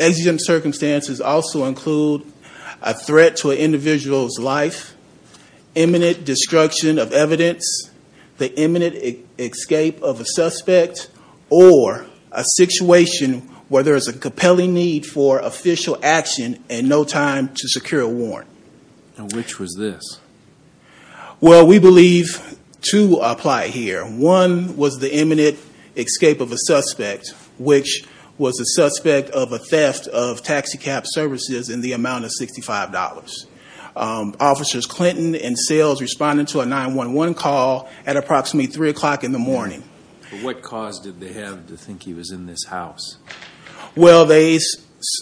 AZM circumstances also include a threat to an individual's life, imminent destruction of evidence, the imminent escape of a suspect, or a situation where there is a compelling need for official action and no time to secure a warrant. Which was this? Well, we believe two apply here. One was the imminent escape of a suspect, which was the suspect of a theft of taxicab services in the amount of $65. Officers Clinton and Sales responded to a 911 call at approximately 3 o'clock in the morning. But what cause did they have to think he was in this house? Well, they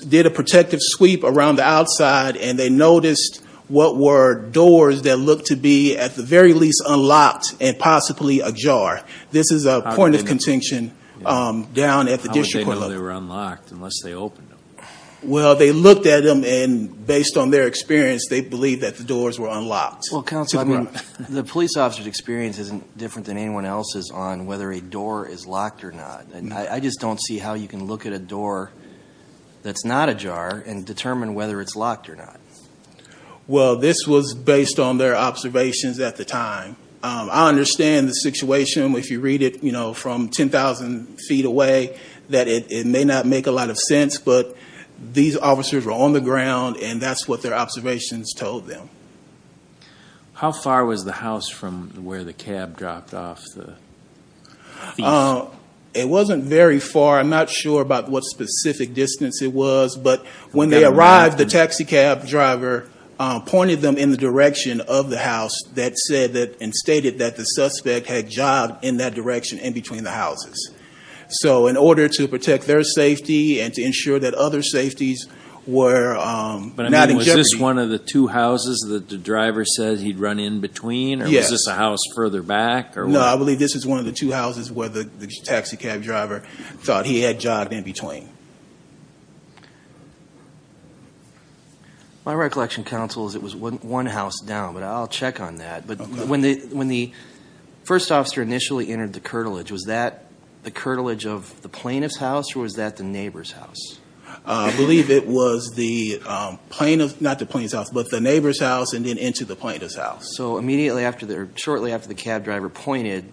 did a protective sweep around the outside and they noticed what were doors that were possibly ajar. This is a point of contention down at the district court. How would they know they were unlocked unless they opened them? Well they looked at them and based on their experience they believe that the doors were unlocked. Well, Counsel, I mean, the police officer's experience isn't different than anyone else's on whether a door is locked or not. I just don't see how you can look at a door that's not ajar and determine whether it's locked or not. Well this was based on their observations at the time. I understand the situation if you read it, you know, from 10,000 feet away that it may not make a lot of sense, but these officers were on the ground and that's what their observations told them. How far was the house from where the cab dropped off the thief? It wasn't very far, I'm not sure about what specific distance it was, but when they arrived the taxi cab driver pointed them in the direction of the house that said that, and stated that the suspect had jogged in that direction in between the houses. So in order to protect their safety and to ensure that other safeties were not in jeopardy. But I mean, was this one of the two houses that the driver said he'd run in between or was this a house further back? No, I believe this is one of the two houses where the taxi cab driver thought he had jogged in between. My recollection counsel is it was one house down, but I'll check on that. But when the first officer initially entered the curtilage, was that the curtilage of the plaintiff's house or was that the neighbor's house? I believe it was the plaintiff's, not the plaintiff's house, but the neighbor's house and then into the plaintiff's house. So immediately after, or shortly after the cab driver pointed,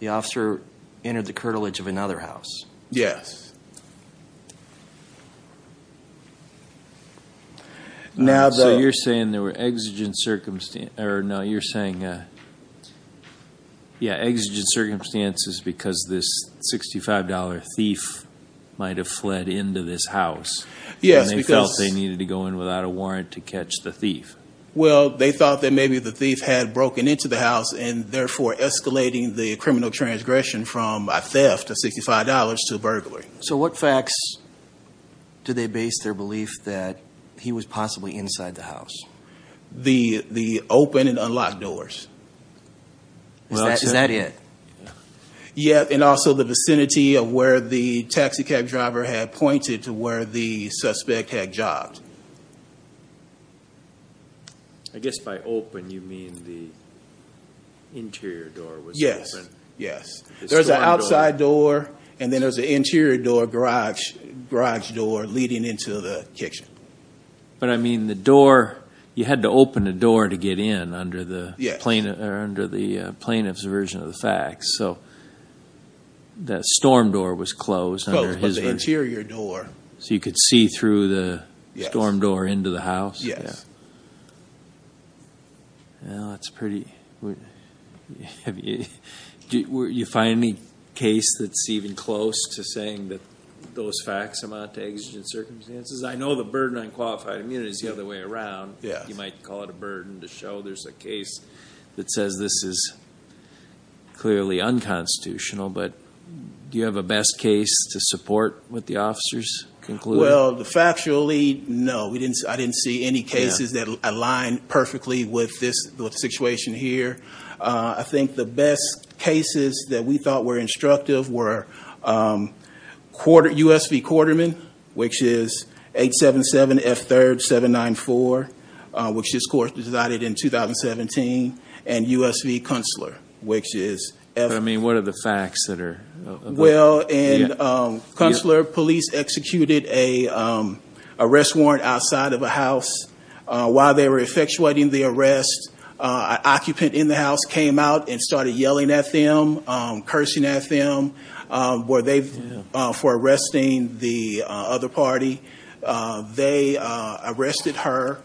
the officer entered the curtilage of another house? Yes. So you're saying there were exigent circumstances, or no, you're saying, yeah, exigent circumstances because this $65 thief might have fled into this house and they felt they needed to go in without a warrant to catch the thief? Well, they thought that maybe the thief had broken into the house and therefore escalating the criminal transgression from a theft of $65 to burglary. So what facts do they base their belief that he was possibly inside the house? The open and unlocked doors. Is that it? Yeah, and also the vicinity of where the taxi cab driver had pointed to where the suspect had jogged. I guess by open you mean the interior door was open? Yes. There was an outside door and then there was an interior door, garage door, leading into the kitchen. But I mean the door, you had to open the door to get in under the plaintiff's version of the facts. So that storm door was closed under his version. Closed, but the interior door. So you could see through the storm door into the house? Yes. Well, that's pretty... You find any case that's even close to saying that those facts amount to exigent circumstances? I know the burden on qualified immunity is the other way around. You might call it a burden to show there's a case that says this is clearly unconstitutional, but do you have a best case to support what the officers concluded? Well, factually, no. I didn't see any cases that aligned perfectly with the situation here. I think the best cases that we thought were instructive were USV Quarterman, which is 877 F3rd 794, which this court decided in 2017, and USV Kunstler, which is F3rd 794. What are the facts that are... Well, in Kunstler, police executed an arrest warrant outside of a house. While they were effectuating the arrest, an occupant in the house came out and started yelling at them, cursing at them for arresting the other party. They arrested her.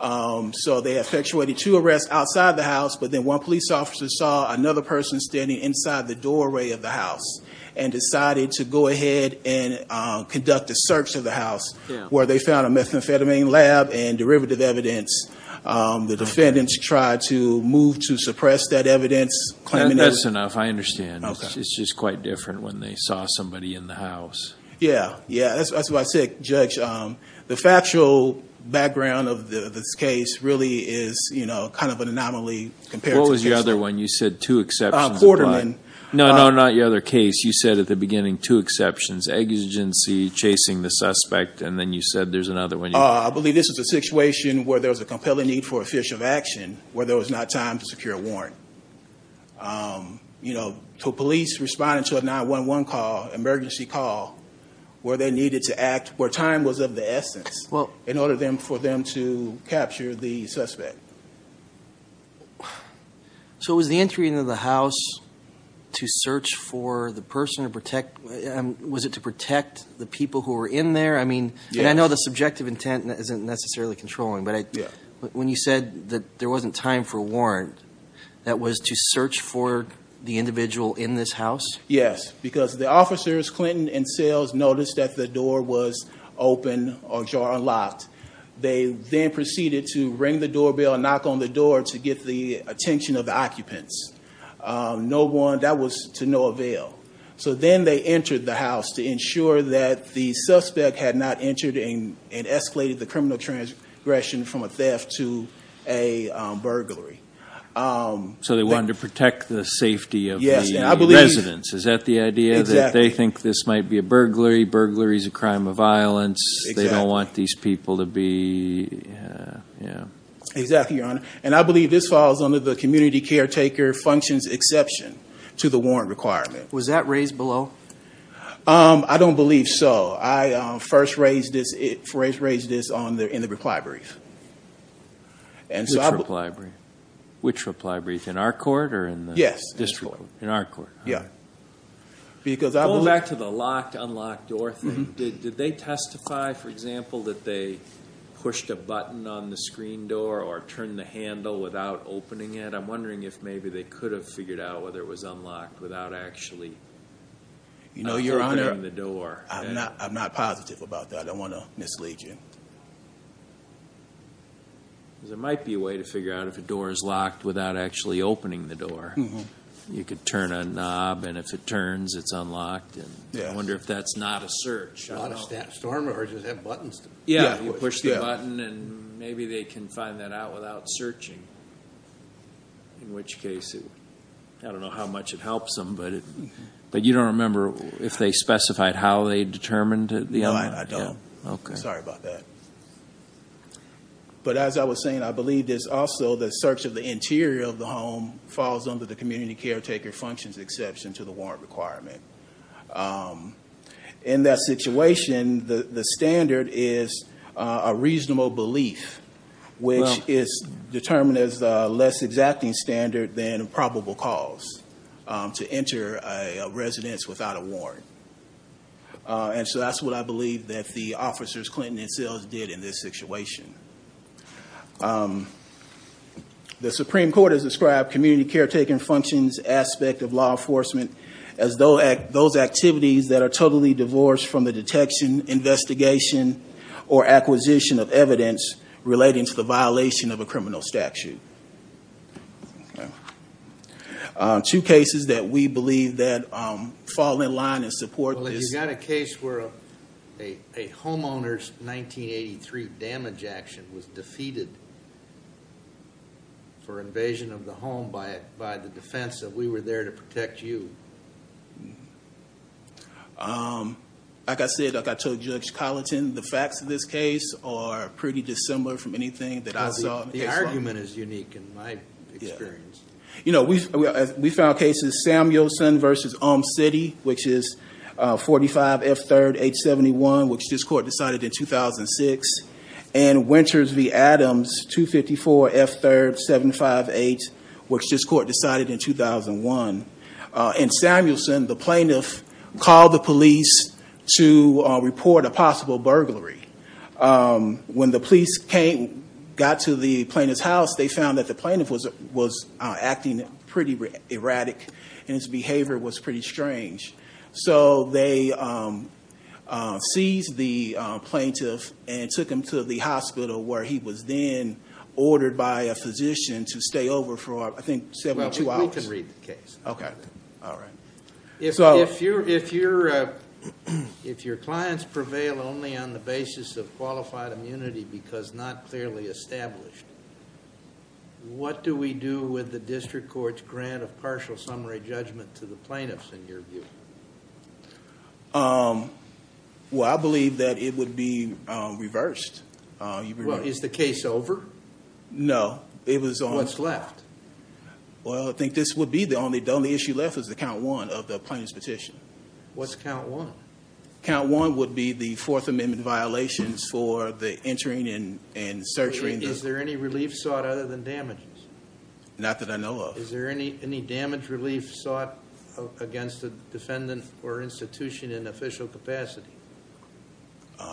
So they effectuated two arrests outside the house, but then one police officer saw another person standing inside the doorway of the house, and decided to go ahead and conduct a search of the house, where they found a methamphetamine lab and derivative evidence. The defendants tried to move to suppress that evidence, claiming evidence. That's enough. I understand. It's just quite different when they saw somebody in the house. Yeah. Yeah. That's what I said, Judge. The factual background of this case really is kind of an anomaly compared to... What was your other one? You said two exceptions. Quarterman. No, no. Not your other case. You said at the beginning, two exceptions, exigency, chasing the suspect, and then you said there's another one. I believe this is a situation where there was a compelling need for a fish of action, where there was not time to secure a warrant. Police responding to a 911 call, emergency call, where they needed to act, where time was of the essence, in order for them to capture the suspect. So, was the entry into the house to search for the person to protect... Was it to protect the people who were in there? I mean... Yes. I know the subjective intent isn't necessarily controlling, but when you said that there wasn't time for a warrant, that was to search for the individual in this house? Yes. Because the officers, Clinton and Sales, noticed that the door was open or unlocked. They then proceeded to ring the doorbell and knock on the door to get the attention of the occupants. No one... That was to no avail. So then they entered the house to ensure that the suspect had not entered and escalated the criminal transgression from a theft to a burglary. So they wanted to protect the safety of the residents. Is that the idea? Exactly. That they think this might be a burglary, burglary is a crime of violence, they don't want these people to be... Exactly, Your Honor. And I believe this falls under the community caretaker functions exception to the warrant requirement. Was that raised below? I don't believe so. I first raised this in the reply brief. And so I... Which reply brief? In our court or in the district court? Yes, in our court. In our court. Yeah. Because I believe... Going back to the locked, unlocked door thing. Did they testify, for example, that they pushed a button on the screen door or turned the handle without opening it? I'm wondering if maybe they could have figured out whether it was unlocked without actually opening the door. You know, Your Honor, I'm not positive about that. I don't want to mislead you. Because there might be a way to figure out if a door is locked without actually opening the door. You could turn a knob and if it turns, it's unlocked. I wonder if that's not a search. Not a storm or does it have buttons? Yeah. You push the button and maybe they can find that out without searching, in which case it... I don't know how much it helps them, but you don't remember if they specified how they determined it? No, I don't. Okay. Sorry about that. But as I was saying, I believe there's also the search of the interior of the home falls under the community caretaker functions exception to the warrant requirement. In that situation, the standard is a reasonable belief, which is determined as a less exacting standard than probable cause to enter a residence without a warrant. And so that's what I believe that the officers, Clinton and Sills, did in this situation. The Supreme Court has described community caretaker functions aspect of law enforcement as those activities that are totally divorced from the detection, investigation, or acquisition of evidence relating to the violation of a criminal statute. Two cases that we believe that fall in line and support this... Well, you've got a case where a homeowner's 1983 damage action was defeated for invasion of the home by the defense that we were there to protect you. Like I said, like I told Judge Colleton, the facts of this case are pretty dissimilar from anything that I saw. The argument is unique in my experience. We found cases Samuelson v. Olm City, which is 45 F. 3rd, 871, which this court decided in 2006, and Winters v. Adams, 254 F. 3rd, 758, which this court decided in 2001. In Samuelson, the plaintiff called the police to report a possible burglary. When the police got to the plaintiff's house, they found that the plaintiff was acting pretty erratic, and his behavior was pretty strange. So they seized the plaintiff and took him to the hospital, where he was then ordered by a physician to stay over for, I think, 72 hours. Well, we can read the case. Okay. All right. If your clients prevail only on the basis of qualified immunity because not clearly established, what do we do with the district court's grant of partial summary judgment to the plaintiffs, in your view? Well, I believe that it would be reversed. Is the case over? It was on... What's left? Well, I think this would be the only issue left is the count one of the plaintiff's petition. What's count one? Count one would be the Fourth Amendment violations for the entering and searching. Is there any relief sought other than damages? Not that I know of. Is there any damage relief sought against the defendant or institution in official capacity?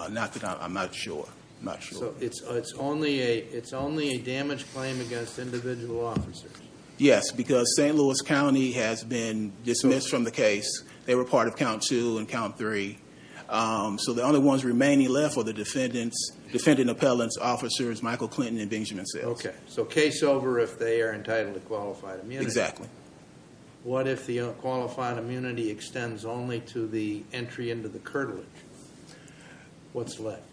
Not that I'm not sure. I'm not sure. So it's only a damage claim against individual officers? Yes, because St. Louis County has been dismissed from the case. They were part of count two and count three. So the only ones remaining left are the defendant's, defendant appellant's officers, Michael Clinton and Benjamin Sitts. Okay. So case over if they are entitled to qualified immunity? Exactly. What if the qualified immunity extends only to the entry into the curtilage? What's left?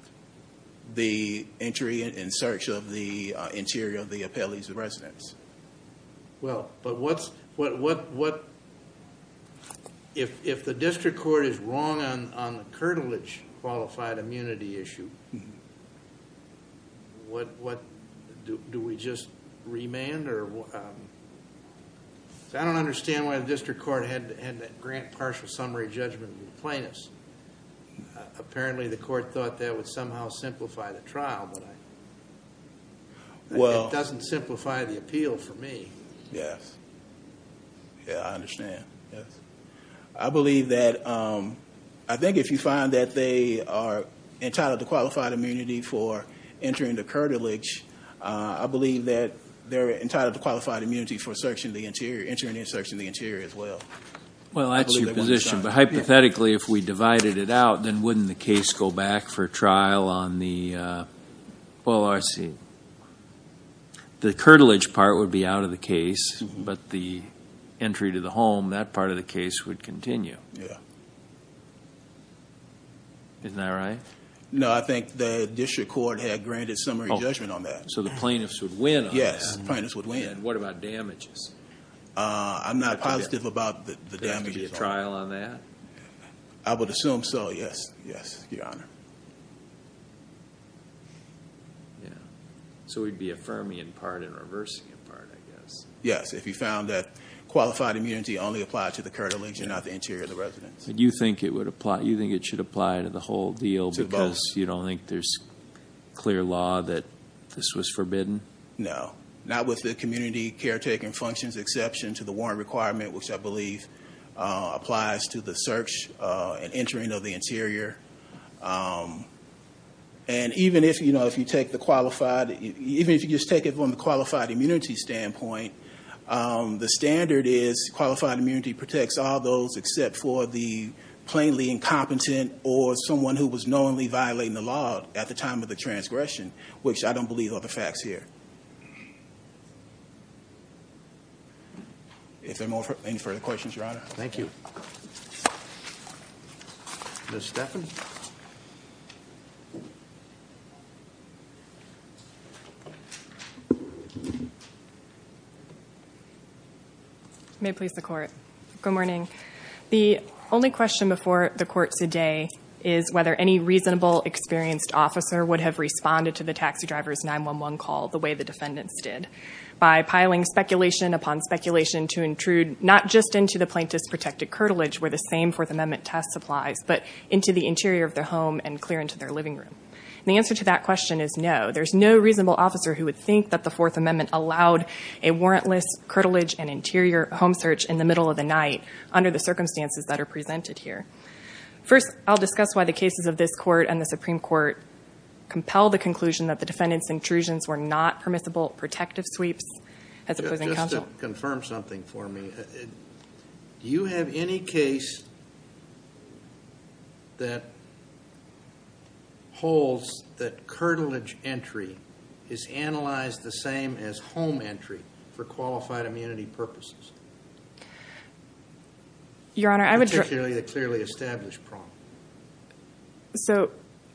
The entry in search of the interior of the appellee's residence. Well, but what's... If the district court is wrong on the curtilage qualified immunity issue, do we just remand or... I don't understand why the district court had to grant partial summary judgment to the plaintiffs. Apparently the court thought that would somehow simplify the trial, but it doesn't simplify the appeal for me. Yes. Yeah, I understand. Yes. Okay. I believe that, I think if you find that they are entitled to qualified immunity for entering the curtilage, I believe that they're entitled to qualified immunity for entering in search of the interior as well. Well, that's your position, but hypothetically, if we divided it out, then wouldn't the case go back for trial on the, well, I see the curtilage part would be out of the case, but the entry to the home, that part of the case would continue. Yeah. Isn't that right? No, I think the district court had granted summary judgment on that. So the plaintiffs would win on that? Yes, plaintiffs would win. What about damages? I'm not positive about the damages. There has to be a trial on that? I would assume so, yes, yes, your honor. So we'd be affirming in part and reversing in part, I guess. Yes, if you found that qualified immunity only applied to the curtilage and not the interior of the residence. And you think it should apply to the whole deal because you don't think there's clear law that this was forbidden? No, not with the community caretaking functions exception to the warrant requirement, which is here. And even if you just take it from the qualified immunity standpoint, the standard is qualified immunity protects all those except for the plainly incompetent or someone who was knowingly violating the law at the time of the transgression, which I don't believe are the facts here. If there are any further questions, your honor. Thank you. Ms. Stephens? May it please the court. Good morning. The only question before the court today is whether any reasonable, experienced officer would have responded to the taxi driver's 911 call the way the defendants did, by piling speculation upon speculation to intrude not just into the plaintiff's protected curtilage where the same Fourth Amendment test applies, but into the interior of their home and clear into their living room. And the answer to that question is no. There's no reasonable officer who would think that the Fourth Amendment allowed a warrantless curtilage and interior home search in the middle of the night under the circumstances that are presented here. First, I'll discuss why the cases of this court and the Supreme Court compel the conclusion that the defendants' intrusions were not permissible protective sweeps as opposing counsel. Just to confirm something for me, do you have any case that holds that curtilage entry is analyzed the same as home entry for qualified immunity purposes? Your honor, I would... Particularly a clearly established problem.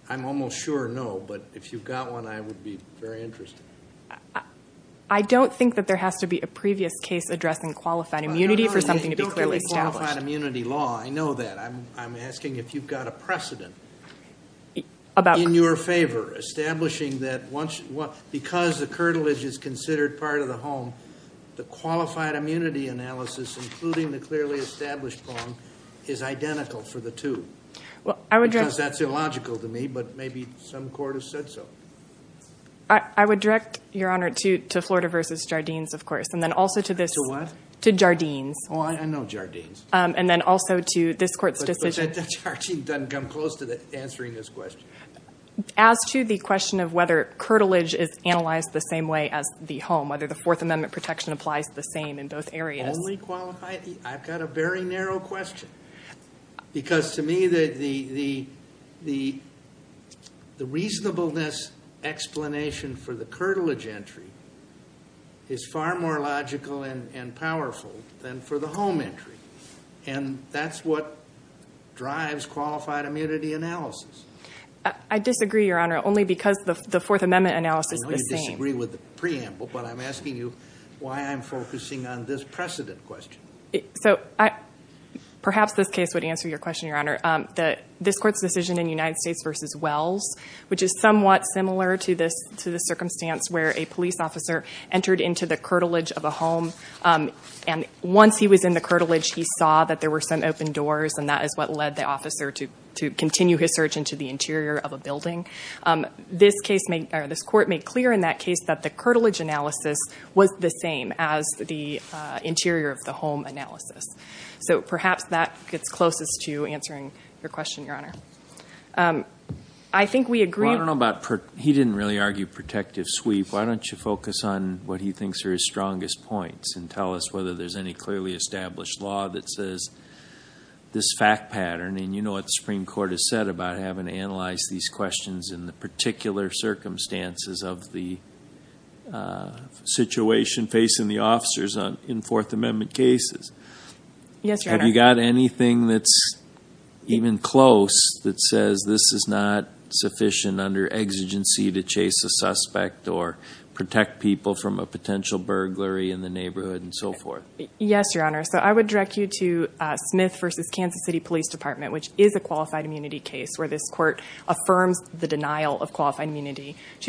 I'm almost sure no, but if you've got one, I would be very interested. I don't think that there has to be a previous case addressing qualified immunity for something to be clearly established. Your honor, you don't have a qualified immunity law. I know that. I'm asking if you've got a precedent in your favor, establishing that because the curtilage is considered part of the home, the qualified immunity analysis, including the clearly established problem, is identical for the two. Well, I would... Because that's illogical to me, but maybe some court has said so. I would direct, your honor, to Florida v. Jardines, of course, and then also to this... To what? To Jardines. Oh, I know Jardines. And then also to this court's decision... But Jardines doesn't come close to answering this question. As to the question of whether curtilage is analyzed the same way as the home, whether the Fourth Amendment protection applies the same in both areas... Only qualified... This explanation for the curtilage entry is far more logical and powerful than for the home entry, and that's what drives qualified immunity analysis. I disagree, your honor, only because the Fourth Amendment analysis is the same. I know you disagree with the preamble, but I'm asking you why I'm focusing on this precedent question. So, perhaps this case would answer your question, your honor. This court's decision in United States v. Wells, which is somewhat similar to the circumstance where a police officer entered into the curtilage of a home, and once he was in the curtilage, he saw that there were some open doors, and that is what led the officer to continue his search into the interior of a building. This court made clear in that case that the curtilage analysis was the same as the interior of the home analysis. So, perhaps that gets closest to answering your question, your honor. I think we agree... Well, I don't know about... He didn't really argue protective sweep. Why don't you focus on what he thinks are his strongest points and tell us whether there's any clearly established law that says this fact pattern, and you know what the Supreme Court has said about having to analyze these questions in the particular circumstances of the situation facing the officers in Fourth Amendment cases. Yes, your honor. Have you got anything that's even close that says this is not sufficient under exigency to chase a suspect or protect people from a potential burglary in the neighborhood and so forth? Yes, your honor. So, I would direct you to Smith v. Kansas City Police Department, which is a qualified immunity to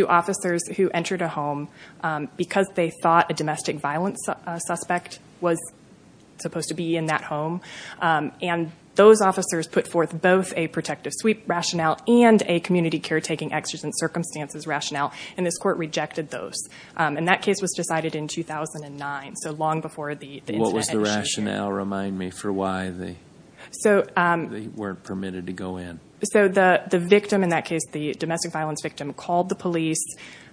officers who entered a home because they thought a domestic violence suspect was supposed to be in that home. And those officers put forth both a protective sweep rationale and a community caretaking exigent circumstances rationale, and this court rejected those. And that case was decided in 2009, so long before the incident... What was the rationale? Remind me for why they weren't permitted to go in. So, the victim in that case, the domestic violence victim, called the police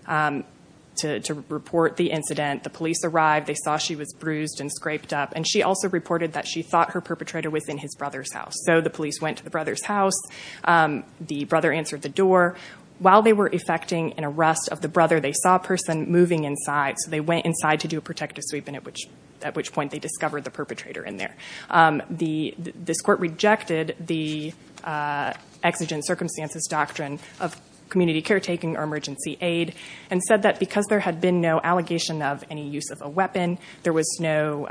to report the incident. The police arrived, they saw she was bruised and scraped up, and she also reported that she thought her perpetrator was in his brother's house. So, the police went to the brother's house, the brother answered the door. While they were effecting an arrest of the brother, they saw a person moving inside, so they went inside to do a protective sweep, at which point they discovered the perpetrator in there. This court rejected the exigent circumstances doctrine of community caretaking or emergency aid, and said that because there had been no allegation of any use of a weapon, there was no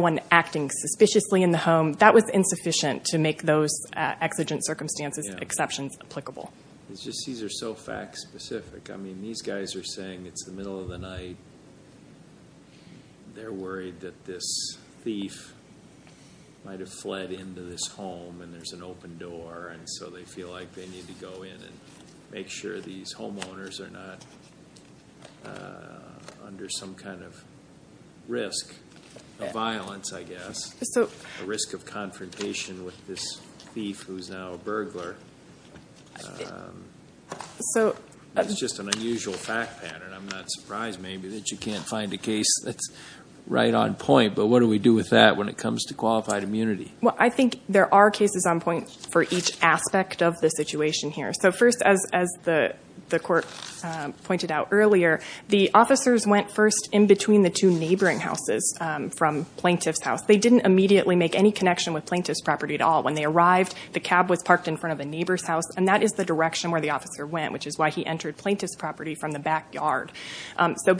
one acting suspiciously in the home, that was insufficient to make those exigent circumstances exceptions applicable. These are so fact specific. I mean, these guys are saying it's the middle of the night, they're worried that this thief might have fled into this home, and there's an open door, and so they feel like they need to go in and make sure these homeowners are not under some kind of risk of violence, I guess. A risk of confrontation with this thief who's now a burglar. It's just an unusual fact pattern. I'm not surprised, maybe, that you can't find a case that's right on point, but what do we do with that when it comes to qualified immunity? I think there are cases on point for each aspect of the situation here. First, as the court pointed out earlier, the officers went first in between the two neighboring houses from plaintiff's house. They didn't immediately make any connection with plaintiff's property at all. When they arrived, the cab was parked in front of the neighbor's house, and that is the direction where the officer went, which is why he entered plaintiff's property from the backyard.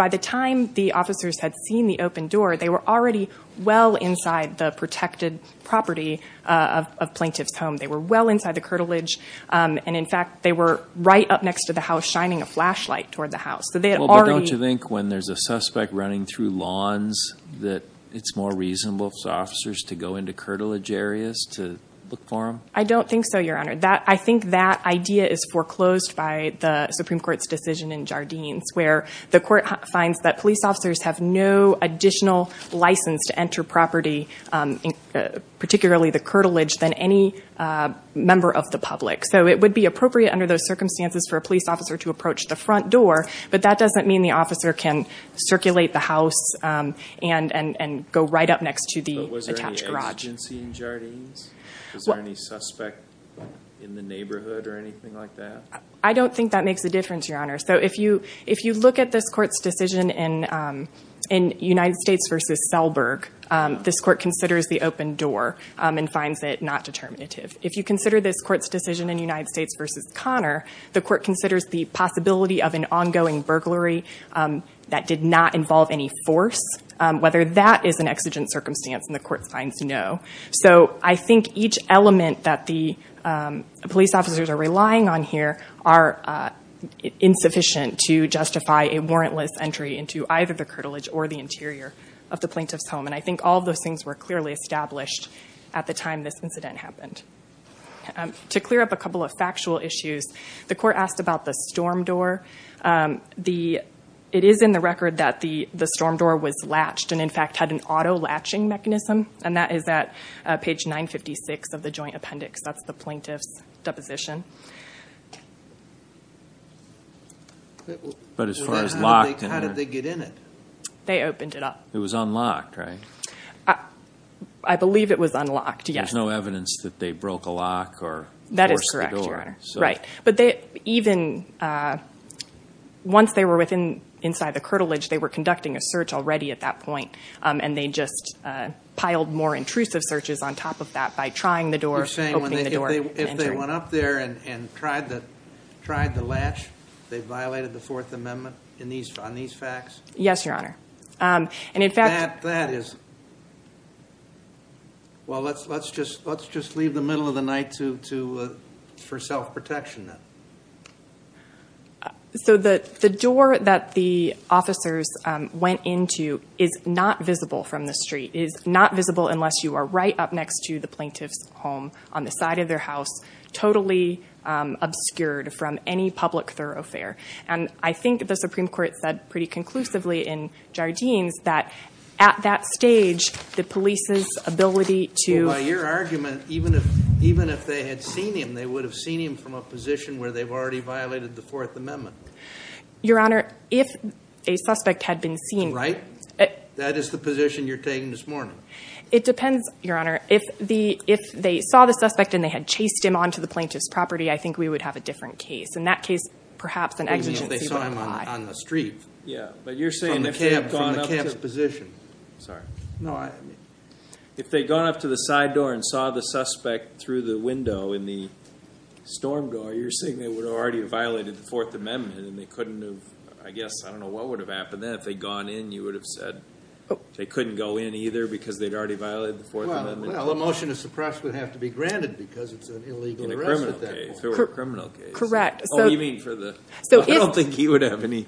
By the time the officers had seen the open door, they were already well inside the protected property of plaintiff's home. They were well inside the curtilage, and in fact, they were right up next to the house shining a flashlight toward the house. Don't you think when there's a suspect running through lawns that it's more reasonable for officers to go into curtilage areas to look for him? I don't think so, Your Honor. I think that idea is foreclosed by the Supreme Court's decision in Jardines, where the court finds that police officers have no additional license to enter property, particularly the curtilage, than any member of the public. So it would be appropriate under those circumstances for a police officer to approach the front door, but that doesn't mean the officer can circulate the house and go right up next to the attached garage. Was there any agency in Jardines? Was there any suspect in the neighborhood or anything like that? I don't think that makes a difference, Your Honor. So if you look at this court's decision in United States v. Selberg, this court considers the open door and finds it not determinative. If you consider this court's decision in United States v. Connor, the court considers the possibility of an ongoing burglary that did not involve any force, whether that is an exigent circumstance, and the court finds no. So I think each element that the police officers are relying on here are insufficient to justify a warrantless entry into either the curtilage or the interior of the plaintiff's home, and I think all of those things were clearly established at the time this incident happened. To clear up a couple of factual issues, the court asked about the storm door. It is in the record that the storm door was latched and, in fact, had an auto-latching mechanism, and that is at page 956 of the joint appendix. That's the plaintiff's deposition. But as far as locked in there? How did they get in it? They opened it up. It was unlocked, right? I believe it was unlocked, yes. There's no evidence that they broke a lock or forced the door. That is correct, Your Honor. Right. But even once they were inside the curtilage, they were conducting a search already at that point. They piled more intrusive searches on top of that by trying the door, opening the door, and entering. You're saying if they went up there and tried to latch, they violated the Fourth Amendment on these facts? Yes, Your Honor. And, in fact... That is... Well, let's just leave the middle of the night for self-protection, then. So the door that the officers went into is not visible from the street, is not visible unless you are right up next to the plaintiff's home on the side of their house, totally obscured from any public thoroughfare. And I think the Supreme Court said pretty conclusively in Jardines that at that stage, the police's ability to... Well, by your argument, even if they had seen him, they would have seen him from a position where they've already violated the Fourth Amendment. Your Honor, if a suspect had been seen... Right? That is the position you're taking this morning. It depends, Your Honor. If they saw the suspect and they had chased him onto the plaintiff's property, I think we would have a different case. In that case, perhaps an exigency would apply. You mean if they saw him on the street? Yeah. But you're saying if they had gone up to... From the camp's position. Sorry. No, I... If they'd gone up to the side door and saw the suspect through the window in the storm door, you're saying they would have already violated the Fourth Amendment and they couldn't have... I guess, I don't know what would have happened then if they'd gone in. You would have said they couldn't go in either because they'd already violated the Fourth Amendment. Well, a motion to suppress would have to be granted because it's an illegal arrest at that point. In a criminal case. In a criminal case. Correct. Oh, you mean for the... I don't think he would have any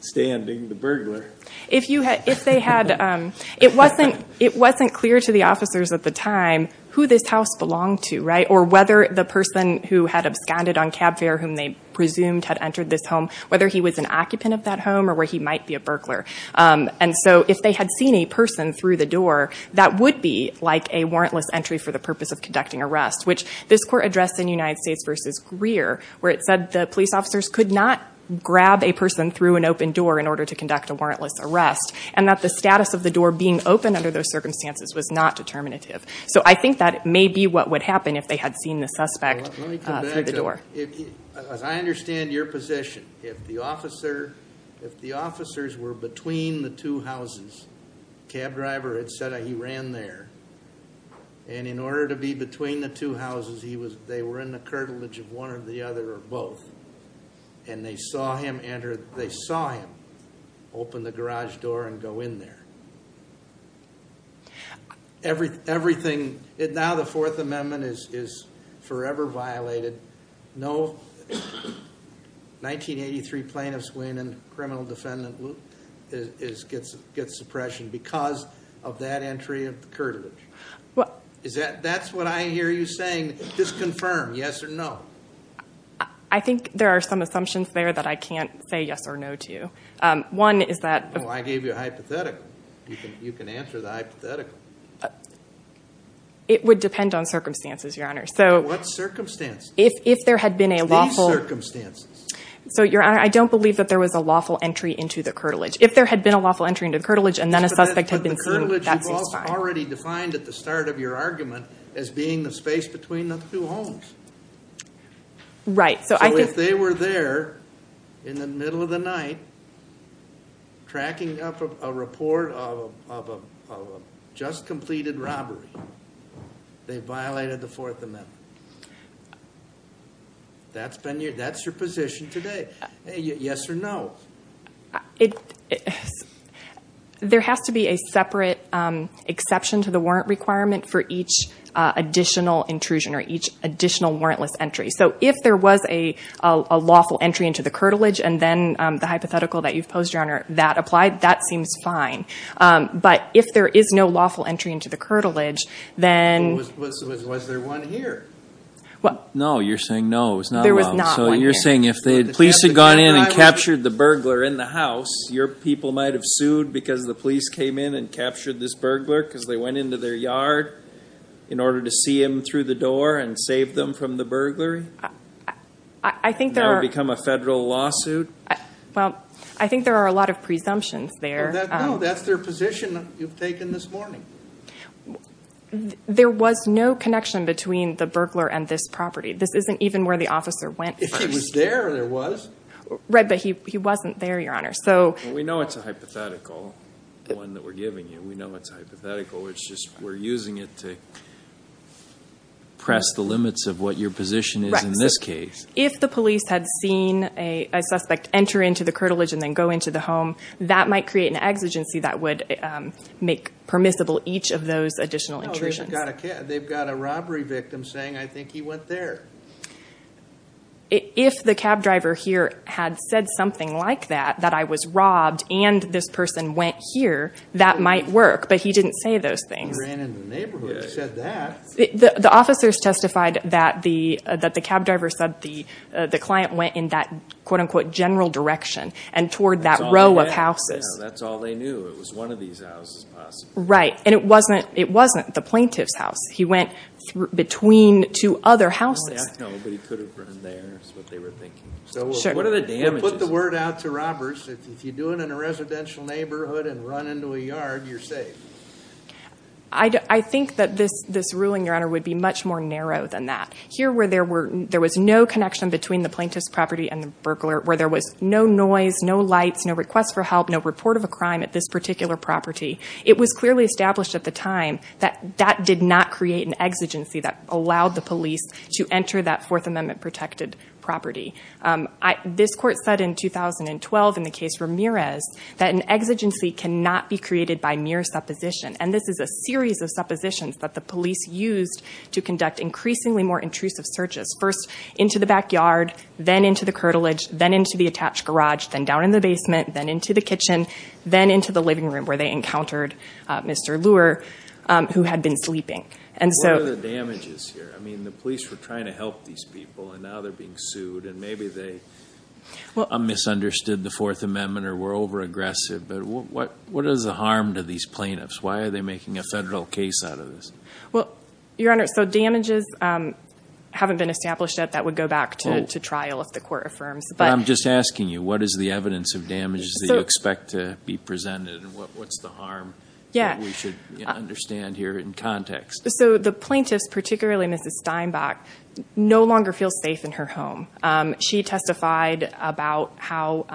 standing, the burglar. If they had... It wasn't clear to the officers at the time who this house belonged to, right? Or whether the person who had absconded on cab fare, whom they presumed had entered this home, whether he was an occupant of that home or where he might be a burglar. And so if they had seen a person through the door, that would be like a warrantless entry for the purpose of conducting arrest, which this court addressed in United States v. Greer, where it said the police officers could not grab a person through an open door in order to conduct a warrantless arrest, and that the status of the door being open under those circumstances was not determinative. So I think that may be what would happen if they had seen the suspect through the door. Let me come back to that. As I understand your position, if the officers were between the two houses, cab driver had said he ran there, and in order to be between the two houses, they were in the curtilage of one or the other or both, and they saw him enter, they saw him open the garage door and go in there. Everything, now the Fourth Amendment is forever violated. No 1983 plaintiff's win and criminal defendant gets suppression because of that entry of the curtilage. That's what I hear you saying, disconfirm, yes or no. I think there are some assumptions there that I can't say yes or no to. I gave you a hypothetical. You can answer the hypothetical. It would depend on circumstances, Your Honor. What circumstances? These circumstances. So, Your Honor, I don't believe that there was a lawful entry into the curtilage. If there had been a lawful entry into the curtilage and then a suspect had been seen, that seems fine. But the curtilage was already defined at the start of your argument as being the space between the two homes. Right. So, if they were there in the middle of the night tracking up a report of a just completed robbery, they violated the Fourth Amendment. That's your position today. Yes or no? There has to be a separate exception to the warrant requirement for each additional intrusion or each additional warrantless entry. So, if there was a lawful entry into the curtilage and then the hypothetical that you've posed, Your Honor, that applied, that seems fine. But if there is no lawful entry into the curtilage, then… Was there one here? No, you're saying no. It was not allowed. There was not one here. So, you're saying if the police had gone in and captured the burglar in the house, your people might have sued because the police came in and captured this burglar because they went into their yard in order to see him through the door and save them from the burglary? I think there are… And that would become a federal lawsuit? Well, I think there are a lot of presumptions there. No, that's their position you've taken this morning. There was no connection between the burglar and this property. This isn't even where the officer went first. If he was there, there was. Right, but he wasn't there, Your Honor. We know it's a hypothetical, the one that we're giving you. We know it's a hypothetical. It's just we're using it to press the limits of what your position is in this case. If the police had seen a suspect enter into the curtilage and then go into the home, that might create an exigency that would make permissible each of those additional intrusions. They've got a robbery victim saying, I think he went there. If the cab driver here had said something like that, that I was robbed and this person went here, that might work, but he didn't say those things. He ran into the neighborhood and said that. The officers testified that the cab driver said the client went in that quote-unquote general direction and toward that row of houses. That's all they knew. It was one of these houses possibly. Right, and it wasn't the plaintiff's house. He went between two other houses. No, but he could have run there is what they were thinking. So what are the damages? Put the word out to robbers. If you do it in a residential neighborhood and run into a yard, you're safe. I think that this ruling, Your Honor, would be much more narrow than that. Here where there was no connection between the plaintiff's property and the burglar, where there was no noise, no lights, no request for help, no report of a crime at this particular property, it was clearly established at the time that that did not create an exigency that allowed the police to enter that Fourth Amendment-protected property. This Court said in 2012 in the case Ramirez that an exigency cannot be created by mere supposition, and this is a series of suppositions that the police used to conduct increasingly more intrusive searches, first into the backyard, then into the curtilage, then into the attached garage, then down in the basement, then into the kitchen, then into the living room where they encountered Mr. Luer, who had been sleeping. What are the damages here? I mean, the police were trying to help these people, and now they're being sued, and maybe they misunderstood the Fourth Amendment or were overaggressive. But what is the harm to these plaintiffs? Why are they making a federal case out of this? Well, Your Honor, so damages haven't been established yet. That would go back to trial if the Court affirms. But I'm just asking you, what is the evidence of damages that you expect to be presented, and what's the harm that we should understand here in context? So the plaintiffs, particularly Mrs. Steinbach, no longer feel safe in her home. She testified about how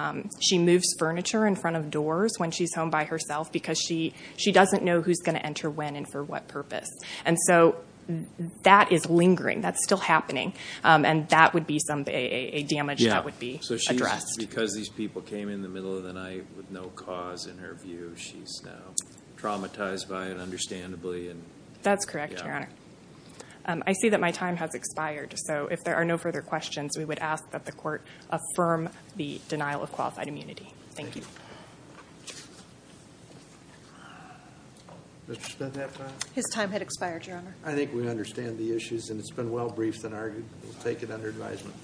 she moves furniture in front of doors when she's home by herself because she doesn't know who's going to enter when and for what purpose. And so that is lingering. That's still happening, and that would be a damage that would be addressed. Because these people came in the middle of the night with no cause, in her view, she's now traumatized by it, understandably. That's correct, Your Honor. I see that my time has expired, so if there are no further questions, we would ask that the Court affirm the denial of qualified immunity. Thank you. Mr. Steinbach? His time had expired, Your Honor. I think we understand the issues, and it's been well briefed and argued. We'll take it under advisement.